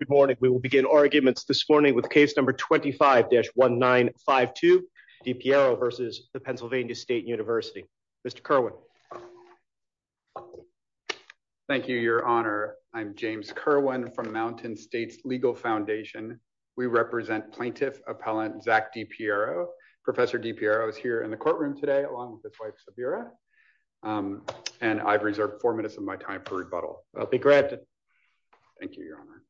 Good morning. We will begin arguments this morning with case number 25-1952, Di Piero v. Pennsylvania State University. Mr. Kerwin. Thank you, Your Honor. I'm James Kerwin from Mountain States Legal Foundation. We represent plaintiff appellant Zach Di Piero. Professor Di Piero is here in the courtroom today along with his wife, Sabira. And I've reserved four minutes of my time for rebuttal. I'll be granted. Thank you, Your Honor.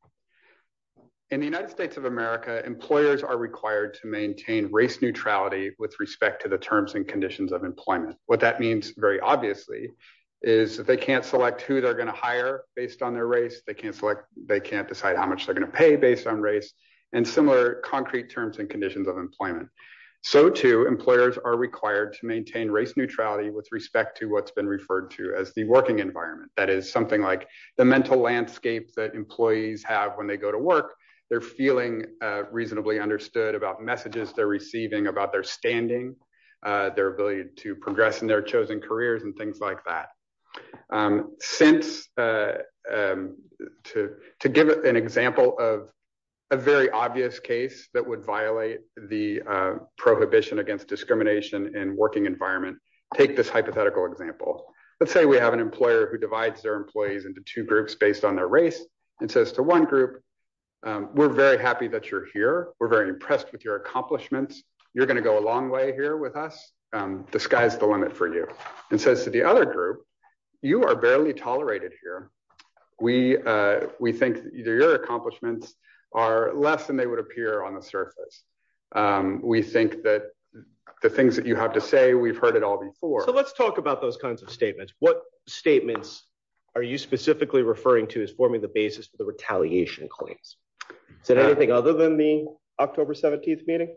In the United States of America, employers are required to maintain race neutrality with respect to the terms and conditions of employment. What that means, very obviously, is that they can't select who they're going to hire based on their race. They can't select, they can't decide how much they're going to pay based on race and similar concrete terms and conditions of employment. So too, employers are required to maintain race neutrality with respect to what's been referred to as the working environment. That is something like the mental landscape that employees have when they go to work. They're feeling reasonably understood about messages they're receiving, about their standing, their ability to progress in their chosen careers and things like that. To give an example of a very obvious case that would violate the prohibition against discrimination in working environment, take this hypothetical example. Let's say we have an employer who divides their employees into two groups based on their race and says to one group, we're very happy that you're here. We're very impressed with your accomplishments. You're going to go a long way here with us. The sky's the limit for you. And says to the other group, you are barely tolerated here. We think either your accomplishments are less than they would appear on the surface. We think that the things that you have to say, we've heard it all before. Let's talk about those kinds of statements. What statements are you specifically referring to as forming the basis for the retaliation claims? Is it anything other than the October 17th meeting?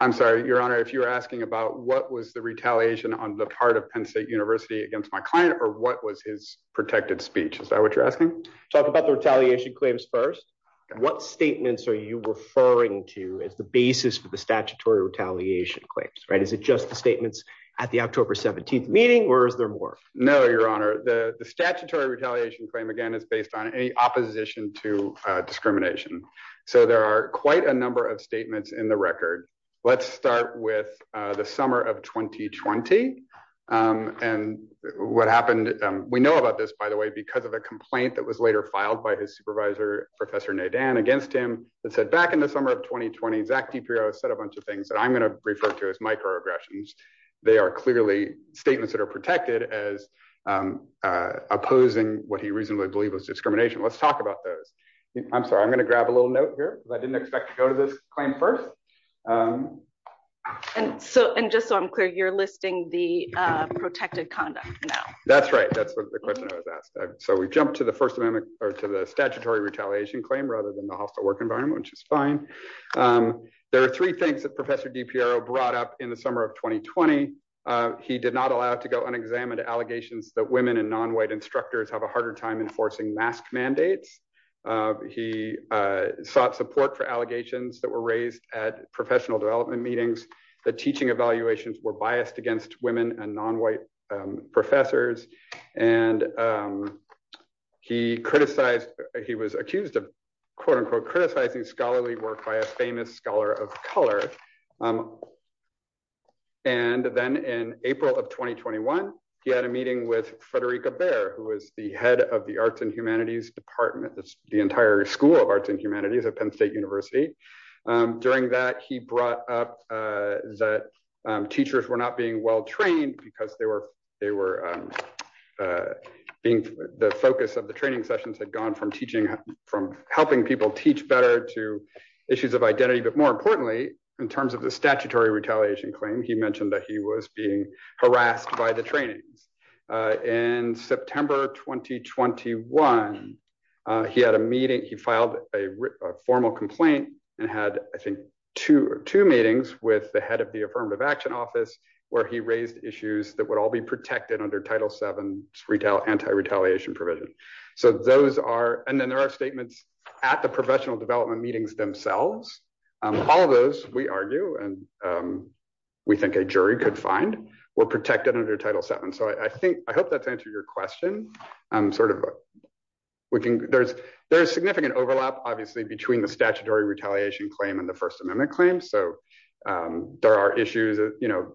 I'm sorry, your honor, if you're asking about what was the retaliation on the part of Penn State University against my client, or what was his protected speech? Is that what you're asking? Talk about the retaliation claims first. What statements are you referring to as the basis for the statutory retaliation claims? Is it just the statements at the October 17th meeting, or is there more? No, your honor. The statutory retaliation claim, again, is based on any opposition to discrimination. So there are quite a number of statements in the record. Let's start with the summer of 2020. And what happened, we know about this, by the way, because of a complaint that was later filed by his supervisor, Professor Nadan, against him that said, back in the summer of 2020, Zach DiPrio said a bunch of things that I'm going to refer to as microaggressions. They are clearly statements that are protected as opposing what he reasonably believed was discrimination. Let's talk about those. I'm sorry, I'm going to grab a little note here, because I didn't expect to go to this claim first. And just so I'm clear, you're listing the protected conduct now? That's right. That's the question I was asked. So we jumped to the first amendment, or to the statutory retaliation claim, rather than the hostile work environment, which is fine. There are three things that Professor DiPrio brought up in the summer of 2020. He did not allow to go unexamined allegations that women and non-white instructors have a harder time enforcing mask mandates. He sought support for allegations that were raised at professional development meetings, that teaching evaluations were biased against women and non-white professors. And he criticized, he was accused of quote-unquote criticizing scholarly work by a famous scholar of color. And then in April of 2021, he had a meeting with Frederica Baer, who was the head of the Arts and Humanities Department, the entire School of Arts and Humanities at Penn State University. During that, he brought up that teachers were not being well-trained because they were being, the focus of the training sessions had gone from teaching, from helping people teach better to issues of identity. But more importantly, in terms of the statutory retaliation claim, he mentioned that he was being harassed by the trainings. In September 2021, he had a meeting, he filed a formal complaint and had, I think, two meetings with the head of the Affirmative Action Office, where he raised issues that would all be protected under Title VII's anti-retaliation provision. So those are, and then there are statements at the professional development meetings themselves. All of those, we argue, and we think a jury could find, were protected under Title VII. So I think, I hope that's answered your question. We can, there's significant overlap, obviously, between the statutory retaliation claim and the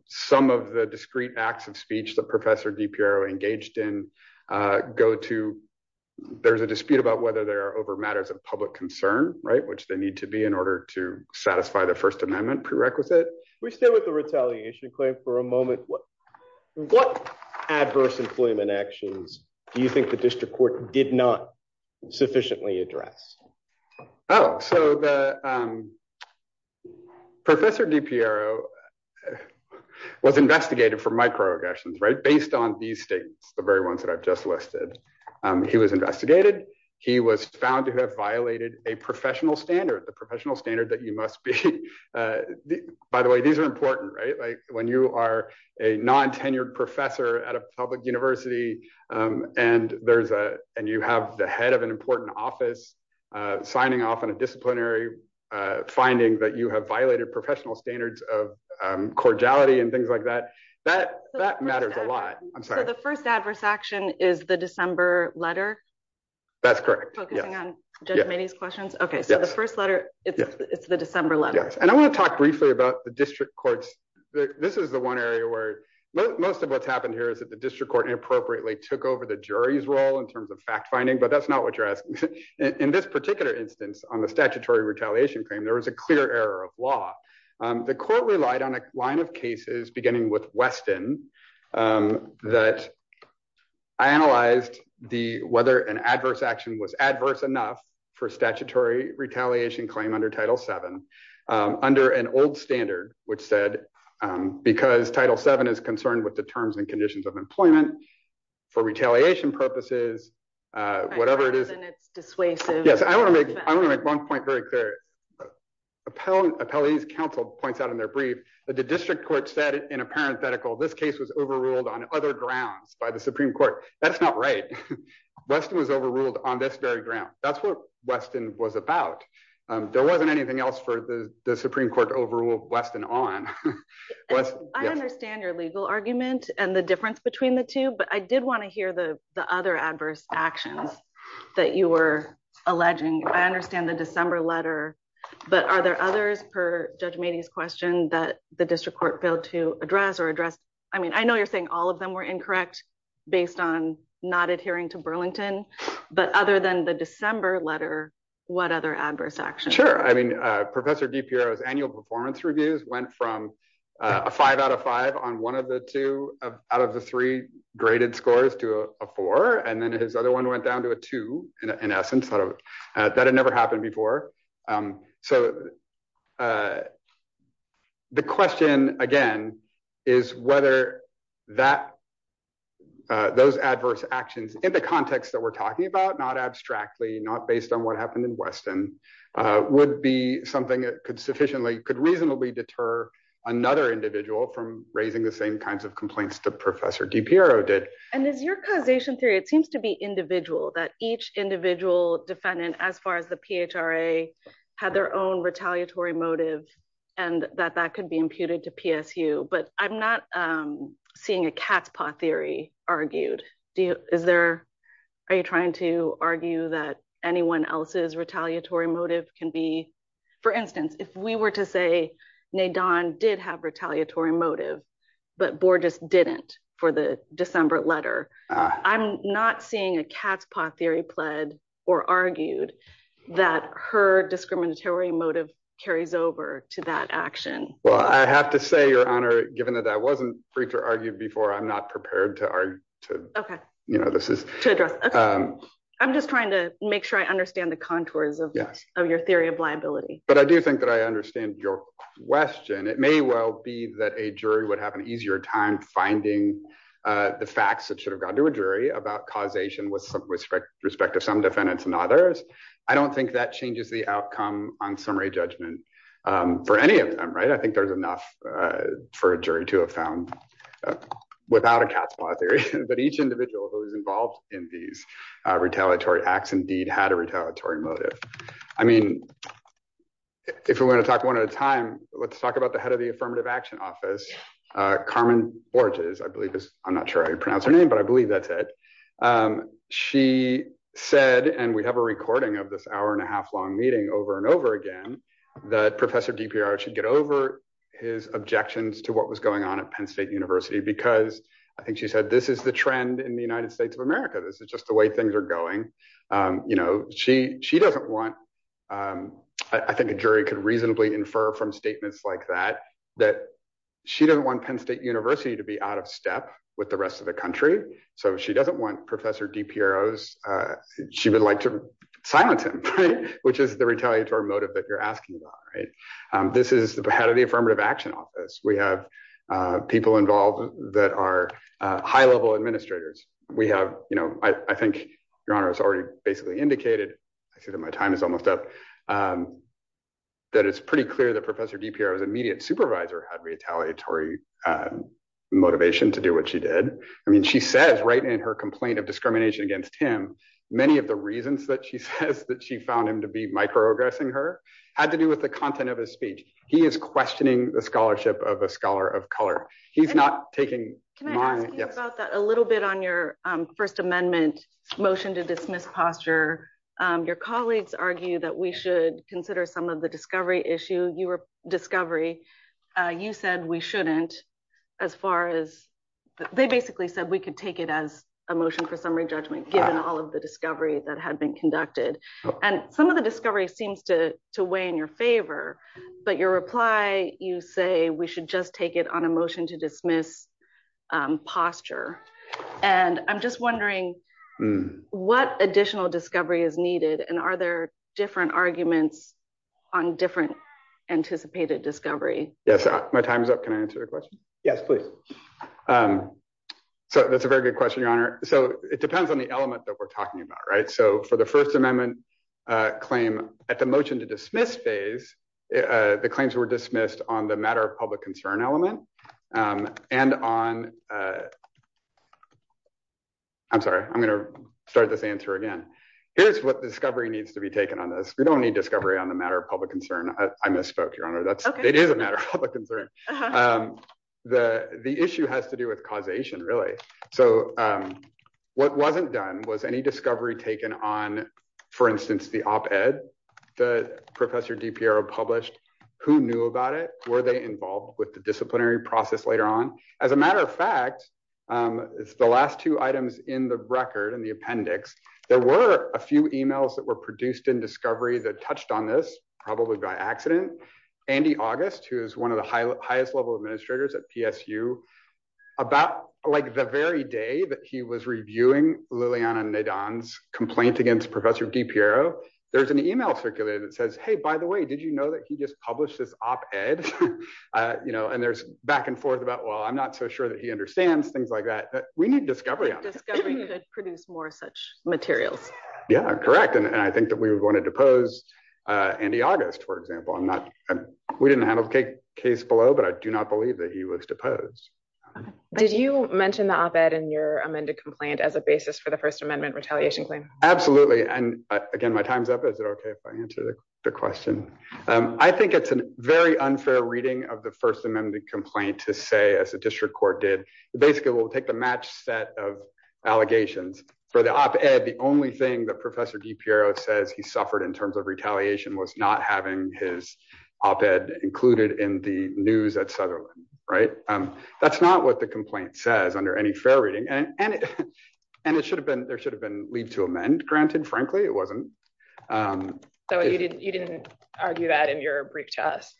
some of the discrete acts of speech that Professor DiPiero engaged in go to, there's a dispute about whether they are over matters of public concern, right, which they need to be in order to satisfy the First Amendment prerequisite. We stay with the retaliation claim for a moment. What adverse employment actions do you think the district court did not sufficiently address? Oh, so the Professor DiPiero was investigated for microaggressions, right, based on these statements, the very ones that I've just listed. He was investigated, he was found to have violated a professional standard, the professional standard that you must be, by the way, these are important, right, like when you are a non-tenured professor at a public university and there's a, and you have the head of an important office signing off on a disciplinary finding that you have violated professional standards of cordiality and things like that, that matters a lot. I'm sorry. So the first adverse action is the December letter? That's correct. Focusing on Judge Maney's questions? Okay, so the first letter, it's the December letter. Yes, and I want to talk briefly about the district courts. This is the one area where most of what's happened here is that the district court inappropriately took over the jury's role in terms of fact-finding, but that's not what you're asking. In this particular instance on the statutory retaliation claim, there was a clear error of law. The court relied on a line of cases beginning with Weston that I analyzed the, whether an adverse action was adverse enough for statutory retaliation claim under Title VII under an old standard, which said, because Title VII is concerned with the terms and conditions of employment for retaliation purposes, whatever it is, it's dissuasive. Yes, I want to make, I want to make one point very clear. Appellee's counsel points out in their brief that the district court said in a parenthetical, this case was overruled on other grounds by the Supreme Court. That's not right. Weston was overruled on this very ground. That's what Weston was about. There wasn't anything else for the Supreme Court to overrule Weston on. I understand your legal argument and the difference between the two, but I did want to hear the other adverse actions that you were alleging. I understand the December letter, but are there others per Judge Mady's question that the district court failed to address or address? I mean, I know you're saying all of them were incorrect based on not adhering to Burlington, but other than the December letter, what other adverse actions? Sure. I mean, Professor DiPiero's annual performance reviews went from a five out of five on one of the two out of the three graded scores to a four. And then his other one went down to a two in essence. That had never happened before. So the question again, is whether that those adverse actions in the context that we're talking about, not abstractly, not based on what happened in Weston would be something that could reasonably deter another individual from raising the same kinds of complaints to Professor DiPiero did. And is your causation theory, it seems to be individual, that each individual defendant as far as the PHRA had their own retaliatory motive and that that could be imputed to PSU. But I'm not seeing a cat's paw theory argued. Are you trying to argue that anyone else's retaliatory motive can be, for instance, if we were to say, Nadine did have retaliatory motive, but Borges didn't for the December letter, I'm not seeing a cat's paw theory pled or argued that her discriminatory motive carries over to that action. Well, I have to say your honor, given that that wasn't free to argue before, I'm not prepared to argue. Okay. I'm just trying to make sure I understand the contours of your theory of liability. But I do think that I understand your question. It may well be that a jury would have an easier time finding the facts that should have gone to a jury about causation with respect to some defendants and others. I don't think that changes the outcome on summary judgment for any of them. I think there's enough for a jury to have found without a cat's paw theory, but each individual who is involved in these retaliatory acts indeed had a retaliatory motive. I mean, if we're going to talk one at a time, let's talk about the head of the affirmative action office, Carmen Borges, I believe is, I'm not sure I pronounce her name, but I believe that's it. She said, and we have a recording of this hour and a half long meeting over and over again, that Professor DiPiero should get over his objections to what was going on at Penn State University, because I think she said, this is the trend in the United States of America. This is just the way things are going. She doesn't want, I think a jury could reasonably infer from statements like that, that she doesn't want Penn State University to be out of step with the rest of the country. So she doesn't want Professor DiPiero, she would like to ask him about, right? This is the head of the affirmative action office. We have people involved that are high level administrators. We have, I think your honor has already basically indicated, I see that my time is almost up, that it's pretty clear that Professor DiPiero's immediate supervisor had retaliatory motivation to do what she did. I mean, she says right in her complaint of discrimination against him, many of the reasons that she says that she found him to be progressing her had to do with the content of his speech. He is questioning the scholarship of a scholar of color. He's not taking- Can I ask you about that a little bit on your first amendment motion to dismiss posture. Your colleagues argue that we should consider some of the discovery issue, your discovery. You said we shouldn't, as far as, they basically said we could take it as a motion for summary judgment, given all of the discovery that had been conducted. And some of the discovery seems to weigh in your favor, but your reply, you say we should just take it on a motion to dismiss posture. And I'm just wondering what additional discovery is needed, and are there different arguments on different anticipated discovery? Yes, my time is up. Can I answer the question? Yes, please. So that's a very good question, your honor. So it depends on the first amendment claim. At the motion to dismiss phase, the claims were dismissed on the matter of public concern element and on- I'm sorry, I'm going to start this answer again. Here's what discovery needs to be taken on this. We don't need discovery on the matter of public concern. I misspoke, your honor. It is a matter of public concern. The issue has to do with causation, really. So what wasn't done was any discovery taken on, for instance, the op-ed that Professor DiPiero published. Who knew about it? Were they involved with the disciplinary process later on? As a matter of fact, the last two items in the record, in the appendix, there were a few emails that were produced in discovery that touched on this, probably by accident. Andy August, who is one of the highest level administrators at PSU, about the very day that he was reviewing Liliana Nadan's complaint against Professor DiPiero, there's an email circulated that says, hey, by the way, did you know that he just published this op-ed? And there's back and forth about, well, I'm not so sure that he understands, things like that. But we need discovery on this. Discovery could produce more such materials. Yeah, correct. And I think that we would want to depose Andy August, for example. We didn't handle the case below, but I do not believe that he was deposed. Did you mention the op-ed in your amended complaint as a basis for the First Amendment retaliation claim? Absolutely. And again, my time's up. Is it okay if I answer the question? I think it's a very unfair reading of the First Amendment complaint to say, as the district court did, basically we'll take the match set of allegations. For the op-ed, the only thing that Professor DiPiero says he suffered in terms of retaliation was not having his op-ed included in the news at Sutherland, right? That's not what the complaint says under any fair reading. And there should have been leave to amend granted, frankly, it wasn't. So you didn't argue that in your brief test,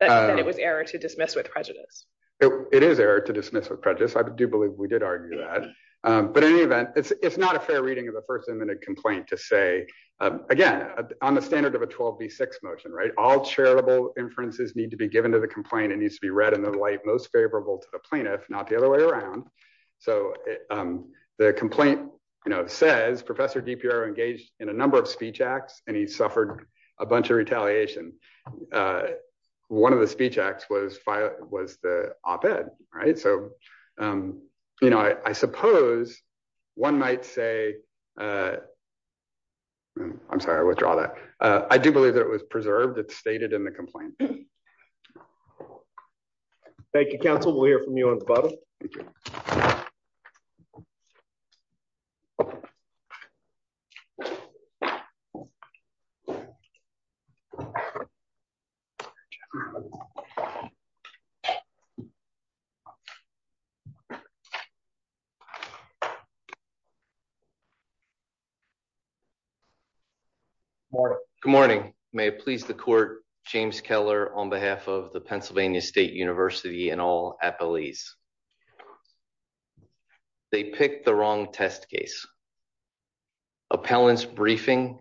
that it was error to dismiss with prejudice? It is error to dismiss with prejudice. I do believe we did argue that. But in any event, it's not a fair reading of the First Amendment complaint to say, again, on the standard of a 12B6 motion, right? All charitable inferences need to be given to the complaint. It needs to be read in the light most favorable to the plaintiff, not the other way around. So the complaint says Professor DiPiero engaged in a number of speech acts and he suffered a bunch of retaliation. One of the speech acts was the op-ed, right? So you know, I suppose one might say, I'm sorry, I withdraw that. I do believe that it was preserved. It's stated in the complaint. Thank you, counsel. We'll hear from you on the bottom. Good morning. May it please the court, James Keller on behalf of the Pennsylvania State University and all appellees. They picked the wrong test case. Appellants briefing,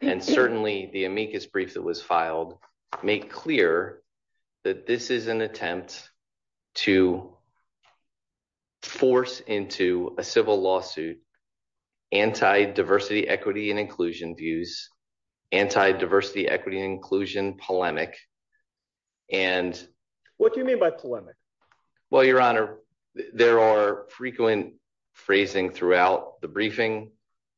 and certainly the amicus brief that was filed, make clear that this is an attempt to force into a civil lawsuit, anti-diversity equity and inclusion views, anti-diversity equity inclusion polemic. What do you mean by polemic? Well, your honor, there are frequent phrasing throughout the briefing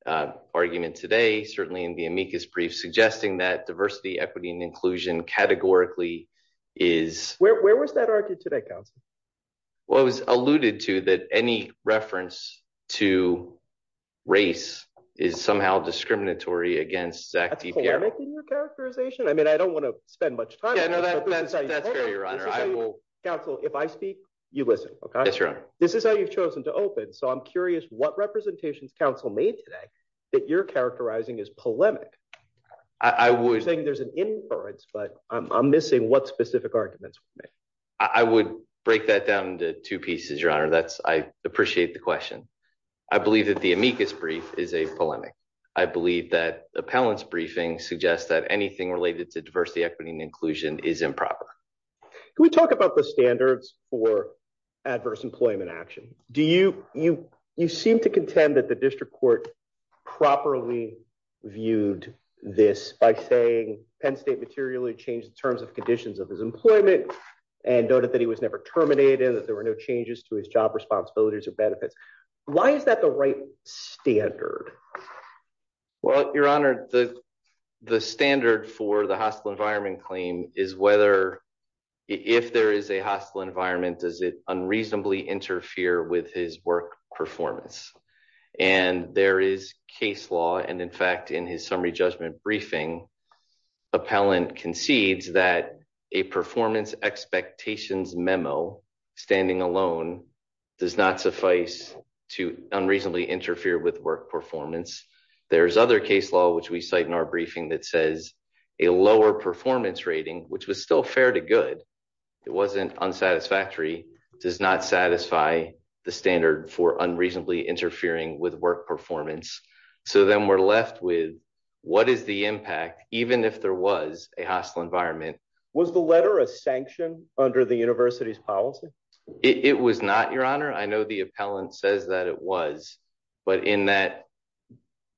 argument today, certainly in the amicus brief, suggesting that diversity, equity, and inclusion categorically is... Where was that argued today, counsel? Well, it was alluded to that any reference to race is somehow discriminatory against... That's polemic in your characterization. I mean, I don't want to spend much time... Yeah, no, that's fair, your honor. I will... Counsel, if I speak, you listen, okay? Yes, your honor. This is how you've chosen to open. So I'm curious what representations counsel made today that you're characterizing as polemic. I would... You're saying there's an inference, but I'm missing what specific arguments were made. I would break that down into two pieces, your honor. I appreciate the question. I believe that the amicus brief is a polemic. I believe that the appellant's briefing suggests that anything related to diversity, equity, and inclusion is improper. Can we talk about the standards for adverse employment action? You seem to contend that the district court properly viewed this by saying Penn State materially changed the terms of conditions of his employment and noted that he was never terminated, that there were no changes to his job responsibilities or benefits. Why is that the right standard? Well, your honor, the standard for the hostile environment claim is whether... If there is a hostile environment, does it unreasonably interfere with his work performance? And there is case law. And in fact, in his summary judgment briefing, appellant concedes that a performance expectations memo standing alone does not suffice to unreasonably interfere with work performance. There's other case law, which we cite in our briefing that says a lower performance rating, which was still fair to good. It wasn't unsatisfactory, does not satisfy the standard for unreasonably interfering with work performance. So then we're left with what is the impact, even if there was a hostile environment. Was the letter a sanction under the university's policy? It was not, your honor. I know the appellant says that it was, but in that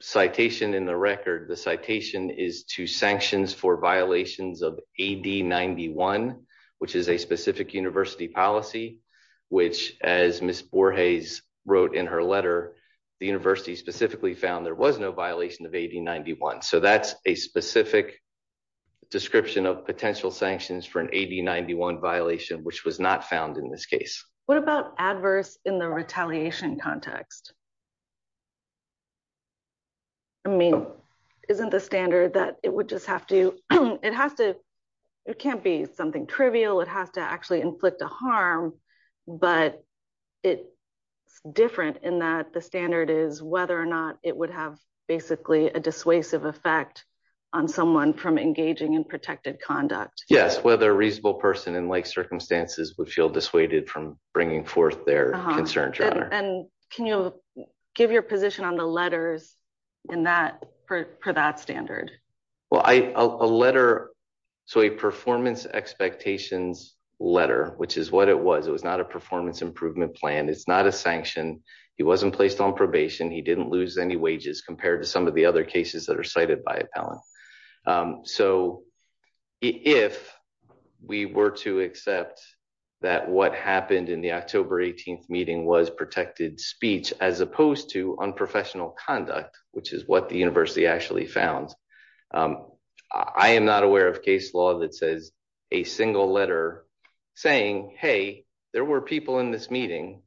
citation in the record, the citation is to sanctions for violations of AD-91, which is a specific university policy, which as Ms. Borges wrote in her letter, the university specifically found there was no violation of AD-91. So that's a specific description of potential sanctions for an AD-91 violation, which was not found in this case. What about adverse in the retaliation context? I mean, isn't the standard that it would just have to, it has to, it can't be something trivial. It has to actually inflict a harm, but it's different in that the standard is whether or not it would have basically a dissuasive effect on someone from engaging in protected conduct. Yes, whether a reasonable person in like circumstances would feel dissuaded from bringing forth their concerns, your honor. And can you have a point of view on that? Give your position on the letters in that, per that standard. Well, a letter, so a performance expectations letter, which is what it was, it was not a performance improvement plan. It's not a sanction. He wasn't placed on probation. He didn't lose any wages compared to some of the other cases that are cited by appellant. So if we were to accept that what happened in the October 18th meeting was protected speech, as opposed to unprofessional conduct, which is what the university actually found. I am not aware of case law that says a single letter saying, Hey, there were people in this meeting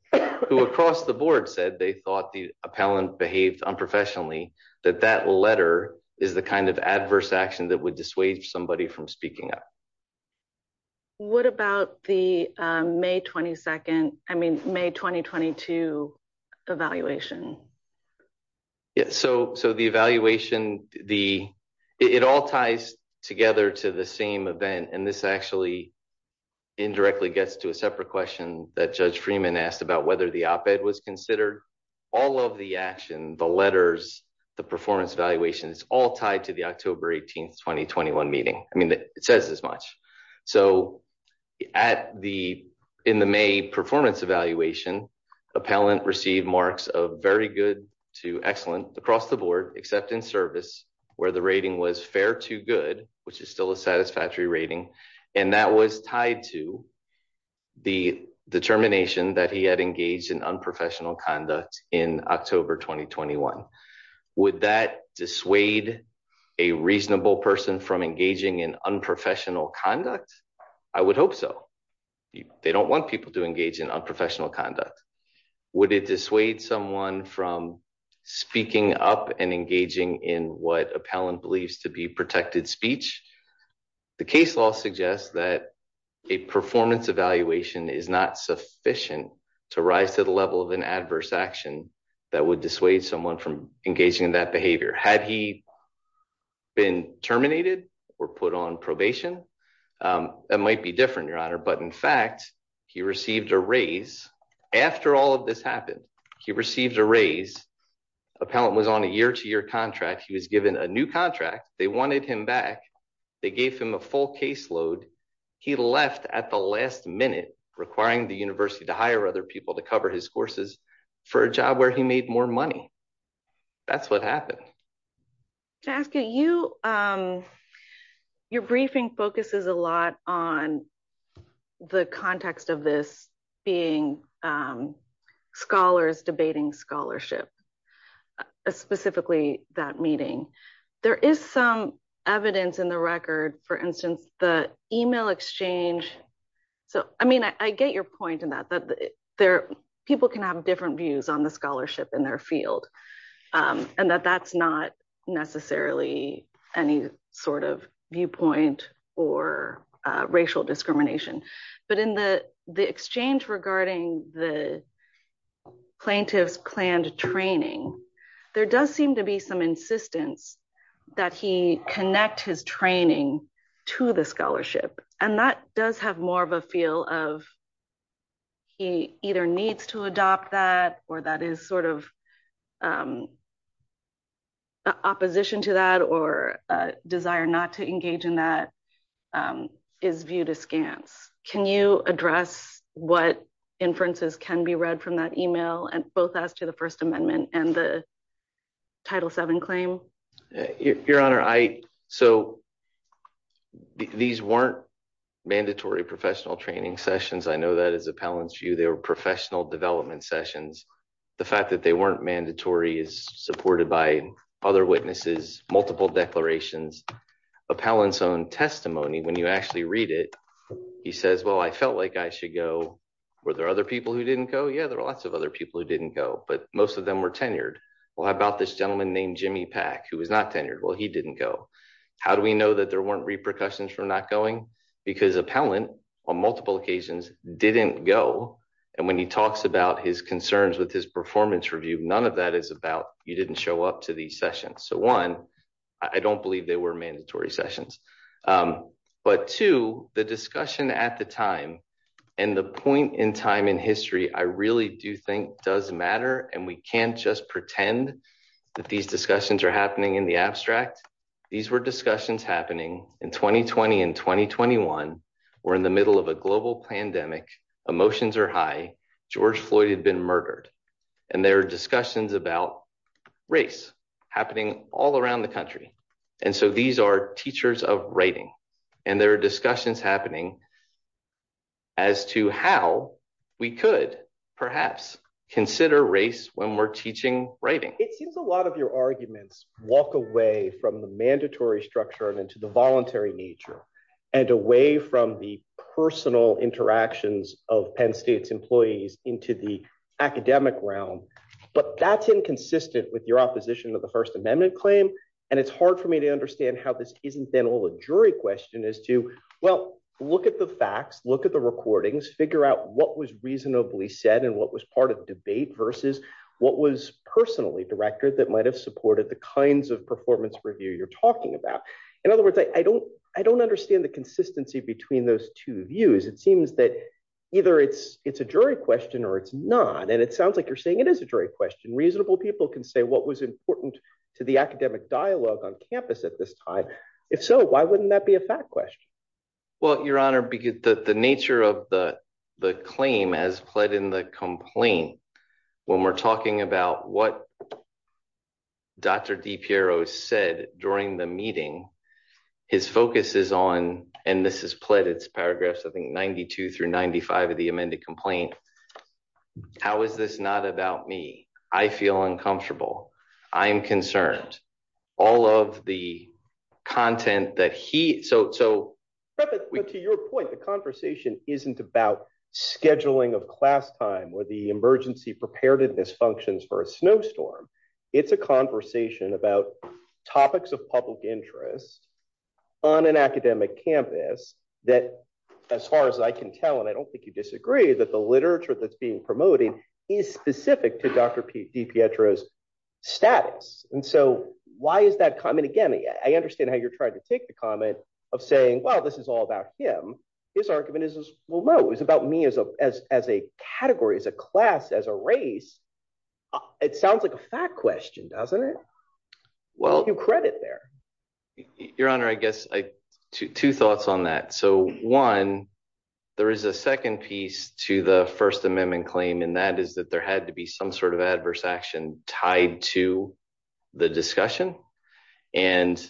who across the board said they thought the appellant behaved unprofessionally, that that letter is the kind of adverse action that would dissuade somebody from speaking up. What about the May 22nd, I mean, May 2022 evaluation? Yeah. So, so the evaluation, the, it all ties together to the same event. And this actually indirectly gets to a separate question that judge Freeman asked about whether the op-ed was considered all of the action, the letters, the performance evaluation, it's all tied to October 18th, 2021 meeting. I mean, it says as much. So at the, in the May performance evaluation, appellant received marks of very good to excellent across the board, except in service where the rating was fair to good, which is still a satisfactory rating. And that was tied to the determination that he had engaged in unprofessional conduct in October, 2021, would that dissuade a reasonable person from engaging in unprofessional conduct? I would hope so. They don't want people to engage in unprofessional conduct. Would it dissuade someone from speaking up and engaging in what appellant believes to be protected speech? The case law suggests that a performance evaluation is not sufficient to rise to the level of an adverse action that would dissuade someone from engaging in that behavior. Had he been terminated or put on probation that might be different, your honor, but in fact, he received a raise after all of this happened, he received a raise appellant was on a year to year contract. He was given a new contract. They wanted him back. They gave him a full caseload. He left at the last minute requiring the university to hire other people to cover his courses for a job where he made more money. That's what happened. Jessica, you, your briefing focuses a lot on the context of this being scholars debating scholarship, specifically that meeting. There is some evidence in the record, for instance, the email exchange. So, I mean, I get your point in that, that there people can have different views on the scholarship in their field. And that that's not necessarily any sort of viewpoint or racial discrimination, but in the exchange regarding the plaintiff's planned training, there does seem to be some insistence that he connect his training to the scholarship. And that does have more of a feel of he either needs to adopt that, or that is sort of a opposition to that or a desire not to engage in that is viewed as scant. Can you address what inferences can be read from that email and both as to the first amendment and the title seven claim? Your honor, I, so these weren't mandatory professional training sessions. I know that as appellants view, they were professional development sessions. The fact that they weren't mandatory is supported by other witnesses, multiple declarations, appellants own testimony. When you actually read it, he says, well, I felt like I should go. Were there other people who didn't go? Yeah. There were lots of other people who didn't go, but most of them were tenured. Well, how about this gentleman named Jimmy Pack who was not tenured? Well, he didn't go. How do we know that there weren't repercussions for not going? Because appellant on multiple occasions didn't go. And when he talks about his concerns with his performance review, none of that is about you didn't show up to these sessions. So one, I don't believe they were mandatory sessions. But two, the discussion at the time and the point in time in history, I really do think does matter. And we can't just pretend that these discussions are happening in the abstract. These were discussions happening in 2020 and 2021. We're in the middle of a global pandemic. Emotions are high. George Floyd had been murdered. And there are discussions about race happening all around the country. And so these are teachers of writing. And there are discussions happening as to how we could perhaps consider race when we're teaching writing. It seems a lot of your arguments walk away from the mandatory structure and into the voluntary nature and away from the personal interactions of Penn State's employees into the academic realm. But that's inconsistent with your opposition to the First Amendment claim. And it's hard for me to understand how this isn't then all a jury question as to, well, look at the facts, look at the recordings, figure out what was reasonably said and what was part of the debate versus what was personally directed that might have supported the kinds of performance review you're talking about. In other words, I don't understand the consistency between those two views. It seems that either it's a jury question or it's not. And it sounds like you're saying it is a jury question. Reasonable people can say what was important to the academic dialogue on campus at this time. If so, why wouldn't that be a fact question? Well, Your Honor, the nature of the claim as pled in the complaint, when we're talking about what Dr. DiPiero said during the meeting, his focus is on, and this is pled, it's paragraphs, I think, 92 through 95 of the amended complaint. How is this not about me? I feel uncomfortable. I'm concerned. All of the content that he, so. But to your point, the conversation isn't about scheduling of class time or the emergency preparedness functions for a snowstorm. It's a conversation about topics of public interest on an academic campus that, as far as I can tell, and I don't think you disagree, that the literature that's being promoted is specific to Dr. DiPietro's status. And so why is that? I mean, again, I understand how you're trying to take the comment of saying, well, this is all about him. His argument is, well, no, it's about me as a category, as a class, as a race. It sounds like a fact question, doesn't it? Well, you credit there. Your Honor, I guess two thoughts on that. So one, there is a second piece to the First Amendment claim, and that is that there had to be some sort of adverse action tied to the discussion. And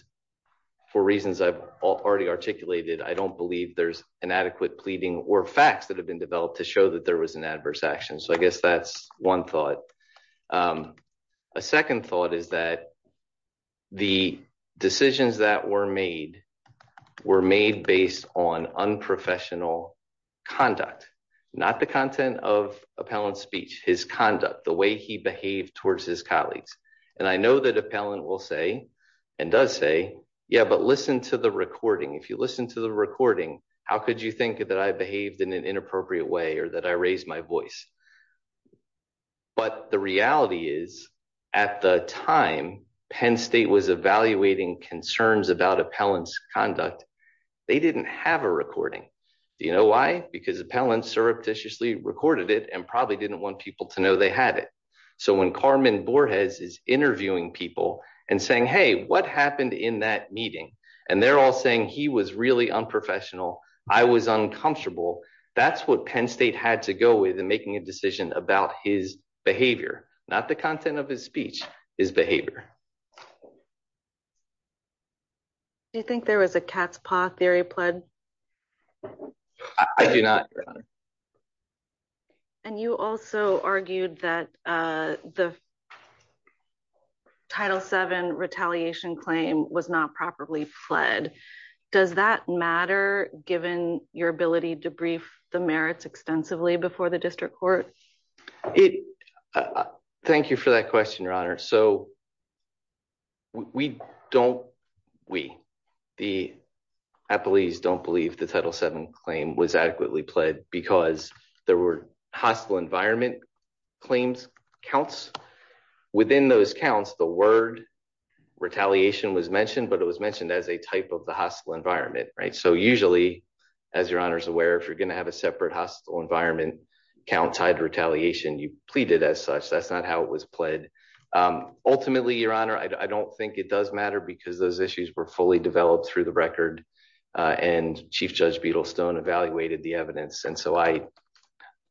for reasons I've already articulated, I don't believe there's inadequate pleading or facts that have been developed to show that there was an adverse action. So I guess that's one thought. A second thought is that the decisions that were made were made based on unprofessional conduct, not the content of Appellant's speech, his conduct, the way he behaved towards his colleagues. And I know that Appellant will say and does say, yeah, but listen to the recording. If you listen to the recording, how could you think that I behaved in an inappropriate way or that I raised my voice? But the reality is, at the time Penn State was evaluating concerns about Appellant's conduct, they didn't have a recording. Do you know why? Because Appellant surreptitiously recorded it and probably didn't want people to know they had it. So when Carmen Borges is interviewing people and saying, hey, what happened in that meeting? And they're all saying he was really unprofessional. I was uncomfortable. That's what Penn State had to go with in making a decision about his behavior, not the content of his speech, his behavior. Do you think there was a cat's paw theory pled? I do not. And you also argued that the Title VII retaliation claim was not properly pled. Does that matter, given your ability to brief the merits extensively before the district court? Thank you for that question, Your Honor. So we don't, we, the appellees don't believe the Title VII claim was adequately pled because there were hostile environment claims counts. Within those counts, the word retaliation was mentioned, but it was mentioned as a type of the hostile environment, right? So usually, as Your Honor is aware, if you're going to have a separate hostile environment count side retaliation, you pleaded as such. That's not how it was pled. Ultimately, Your Honor, I don't think it does matter because those issues were fully developed through the record. And Chief Judge Beetlestone evaluated the evidence. And so I,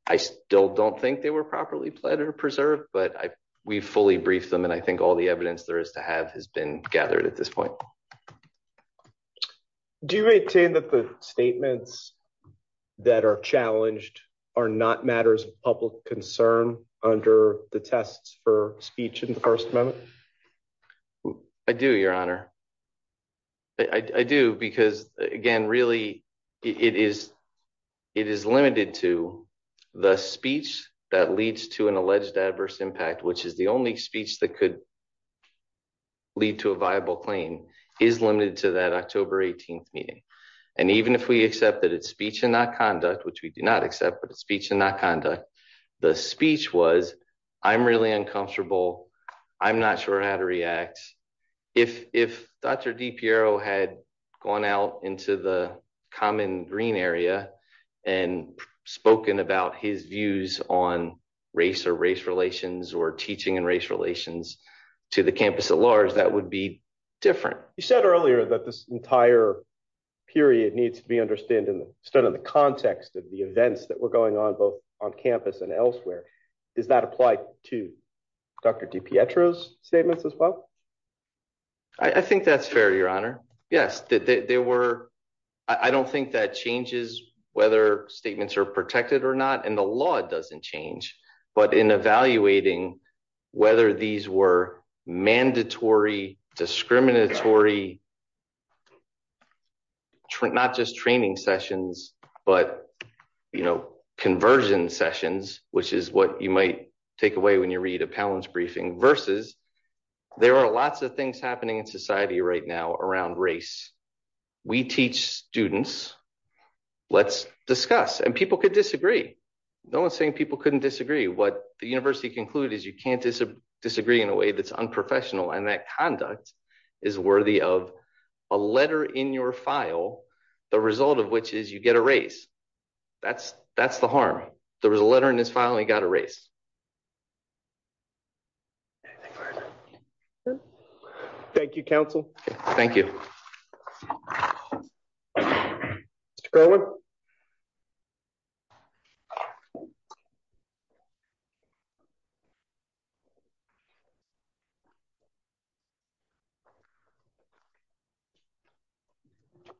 I still don't think they were properly pled or preserved, but I, we fully briefed them. And I think all the evidence there is to have has been gathered at this point. Do you maintain that the statements that are challenged are not matters of public concern under the tests for speech in the first moment? I do, Your Honor. I do, because again, really it is, it is limited to the speech that leads to an alleged adverse impact, which is the only speech that could lead to a viable claim, is limited to that October 18th meeting. And even if we accept that it's speech and not conduct, which we do not accept, but it's speech and not conduct, the speech was, I'm really uncomfortable. I'm not sure how to react. If, if Dr. DiPiero had gone out into the common green area and spoken about his views on race or race relations or teaching and race relations to the campus at large, that would be different. You said earlier that this entire period needs to be understood in the context of the events that were going on both on campus and elsewhere. Does that apply to Dr. DiPietro's statements as well? I think that's fair, Your Honor. Yes. There were, I don't think that changes whether statements are protected or not, and the law doesn't change, but in evaluating whether these were mandatory, discriminatory, not just training sessions, but, you know, conversion sessions, which is what you might take away when you read a Pallance briefing versus there are lots of things happening in society right now around race. We teach students, let's discuss, and people could disagree. No one's saying people couldn't disagree. What the university concluded is you can't disagree in a way that's unprofessional and that conduct is worthy of a letter in your file, the result of which is you get a race. That's, that's the harm. There was a letter in his file and he got a race. Thank you, counsel. Thank you. Mr. Garland?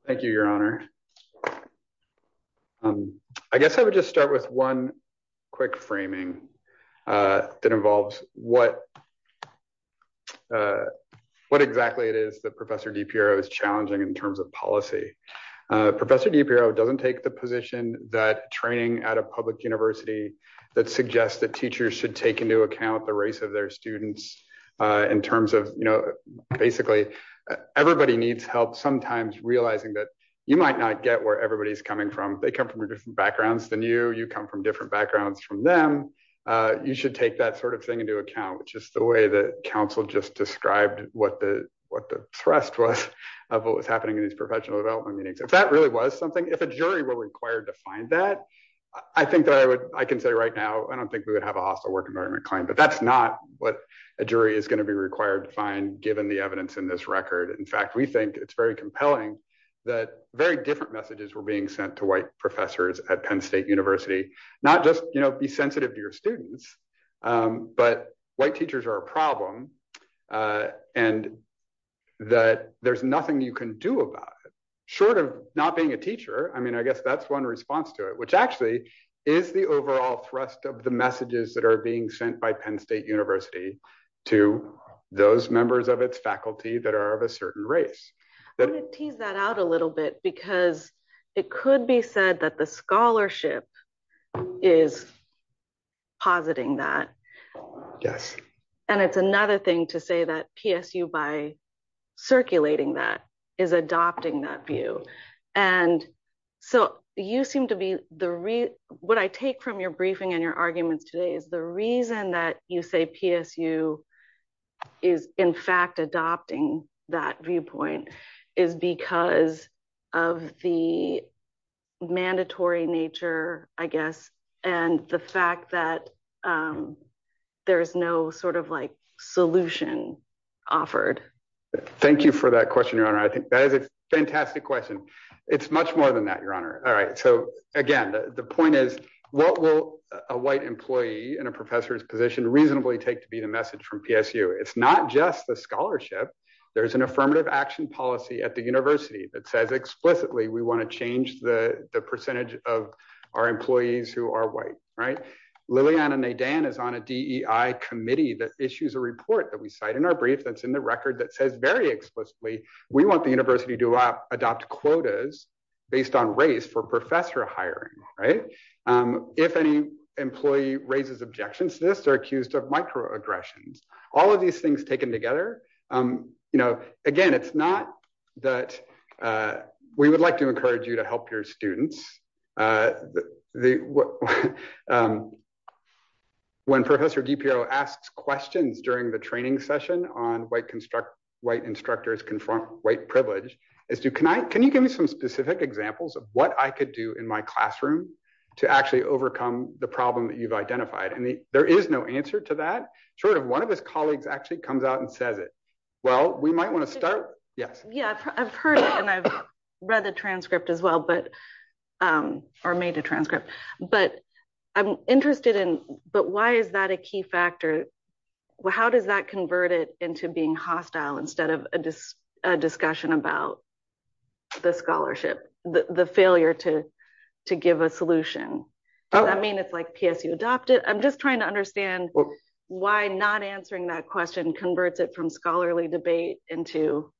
Thank you, Your Honor. I guess I would just start with one quick framing that involves what, what exactly it is that Professor DiPiero is challenging in terms of policy. Professor DiPiero doesn't take the position that training at a public university that suggests that teachers should take into account the race of their students in terms of, you know, basically everybody needs help sometimes realizing that you might not get where everybody's coming from. They come from different backgrounds than you. You come from different backgrounds from you should take that sort of thing into account, which is the way that counsel just described what the, what the thrust was of what was happening in these professional development meetings. If that really was something, if a jury were required to find that, I think that I would, I can say right now, I don't think we would have a hostile work environment claim, but that's not what a jury is going to be required to find given the evidence in this record. In fact, we think it's very compelling that very different messages were being sent to white professors at Penn State University, not just, you know, be sensitive to your students but white teachers are a problem and that there's nothing you can do about it. Short of not being a teacher, I mean, I guess that's one response to it, which actually is the overall thrust of the messages that are being sent by Penn State University to those members of its faculty that are of a certain race. I'm going to tease that out a little bit because it could be said that the scholarship is positing that. Yes. And it's another thing to say that PSU by circulating that is adopting that view. And so you seem to be the, what I take from your briefing and your arguments today is the reason that you say PSU is in fact adopting that viewpoint is because of the mandatory nature, I guess, and the fact that there's no sort of like solution offered. Thank you for that question, Your Honor. I think that is a fantastic question. It's much more than that, Your Honor. All right. So again, the point is, what will a white employee in a professor's position reasonably take to be the message from PSU? It's not just the scholarship. There's an affirmative action policy at the university that says explicitly we want to change the percentage of our employees who are white, right? Liliana Nadan is on a DEI committee that issues a report that we cite in our brief that's in the record that says very explicitly we want the university to adopt quotas based on race for professor hiring, right? If any employee raises objections to this, they're accused of microaggressions. All of these things taken together, you know, again, it's not that we would like to encourage you to help your students. When Professor DiPiro asks questions during the training session on white instructors confront white privilege, can you give me some specific examples of what I could do in my classroom to actually overcome the problem that you've identified? And there is no answer to that, short of one of his colleagues actually comes out and says it. Well, we might want to start. Yes. Yeah, I've heard it and I've read the transcript as well, or made a transcript. But I'm interested in, but why is that a key factor? How does that convert it into being hostile instead of a discussion about the scholarship, the failure to give a solution? Does that mean it's like PSU adopted? I'm just trying to understand why not answering that question converts it from scholarly debate into.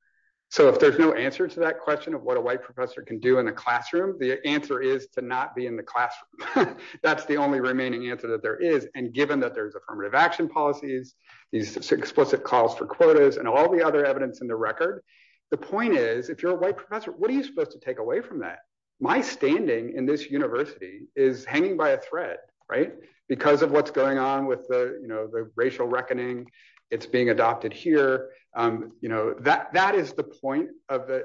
So if there's no answer to that question of what a white professor can do in the classroom, the answer is to not be in the classroom. That's the only remaining answer that there is. And given that there's affirmative action policies, these explicit calls for quotas and all the other evidence in the record, the point is if you're a white professor, what are you supposed to take away from that? My standing in this university is hanging by a thread, right? Because of what's going on with the racial reckoning, it's being adopted here. That is the point of it.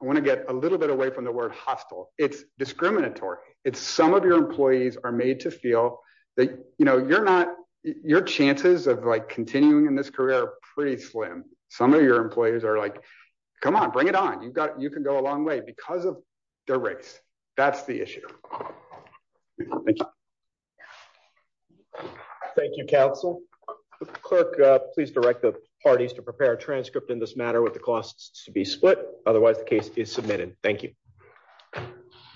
I want to get a little bit away from the word hostile. It's discriminatory. It's some of your employees are made to feel you know, you're not, your chances of like continuing in this career are pretty slim. Some of your employers are like, come on, bring it on. You've got, you can go a long way because of the race. That's the issue. Thank you, council clerk, please direct the parties to prepare a transcript in this matter with the costs to be split. Otherwise the case is submitted. Thank you.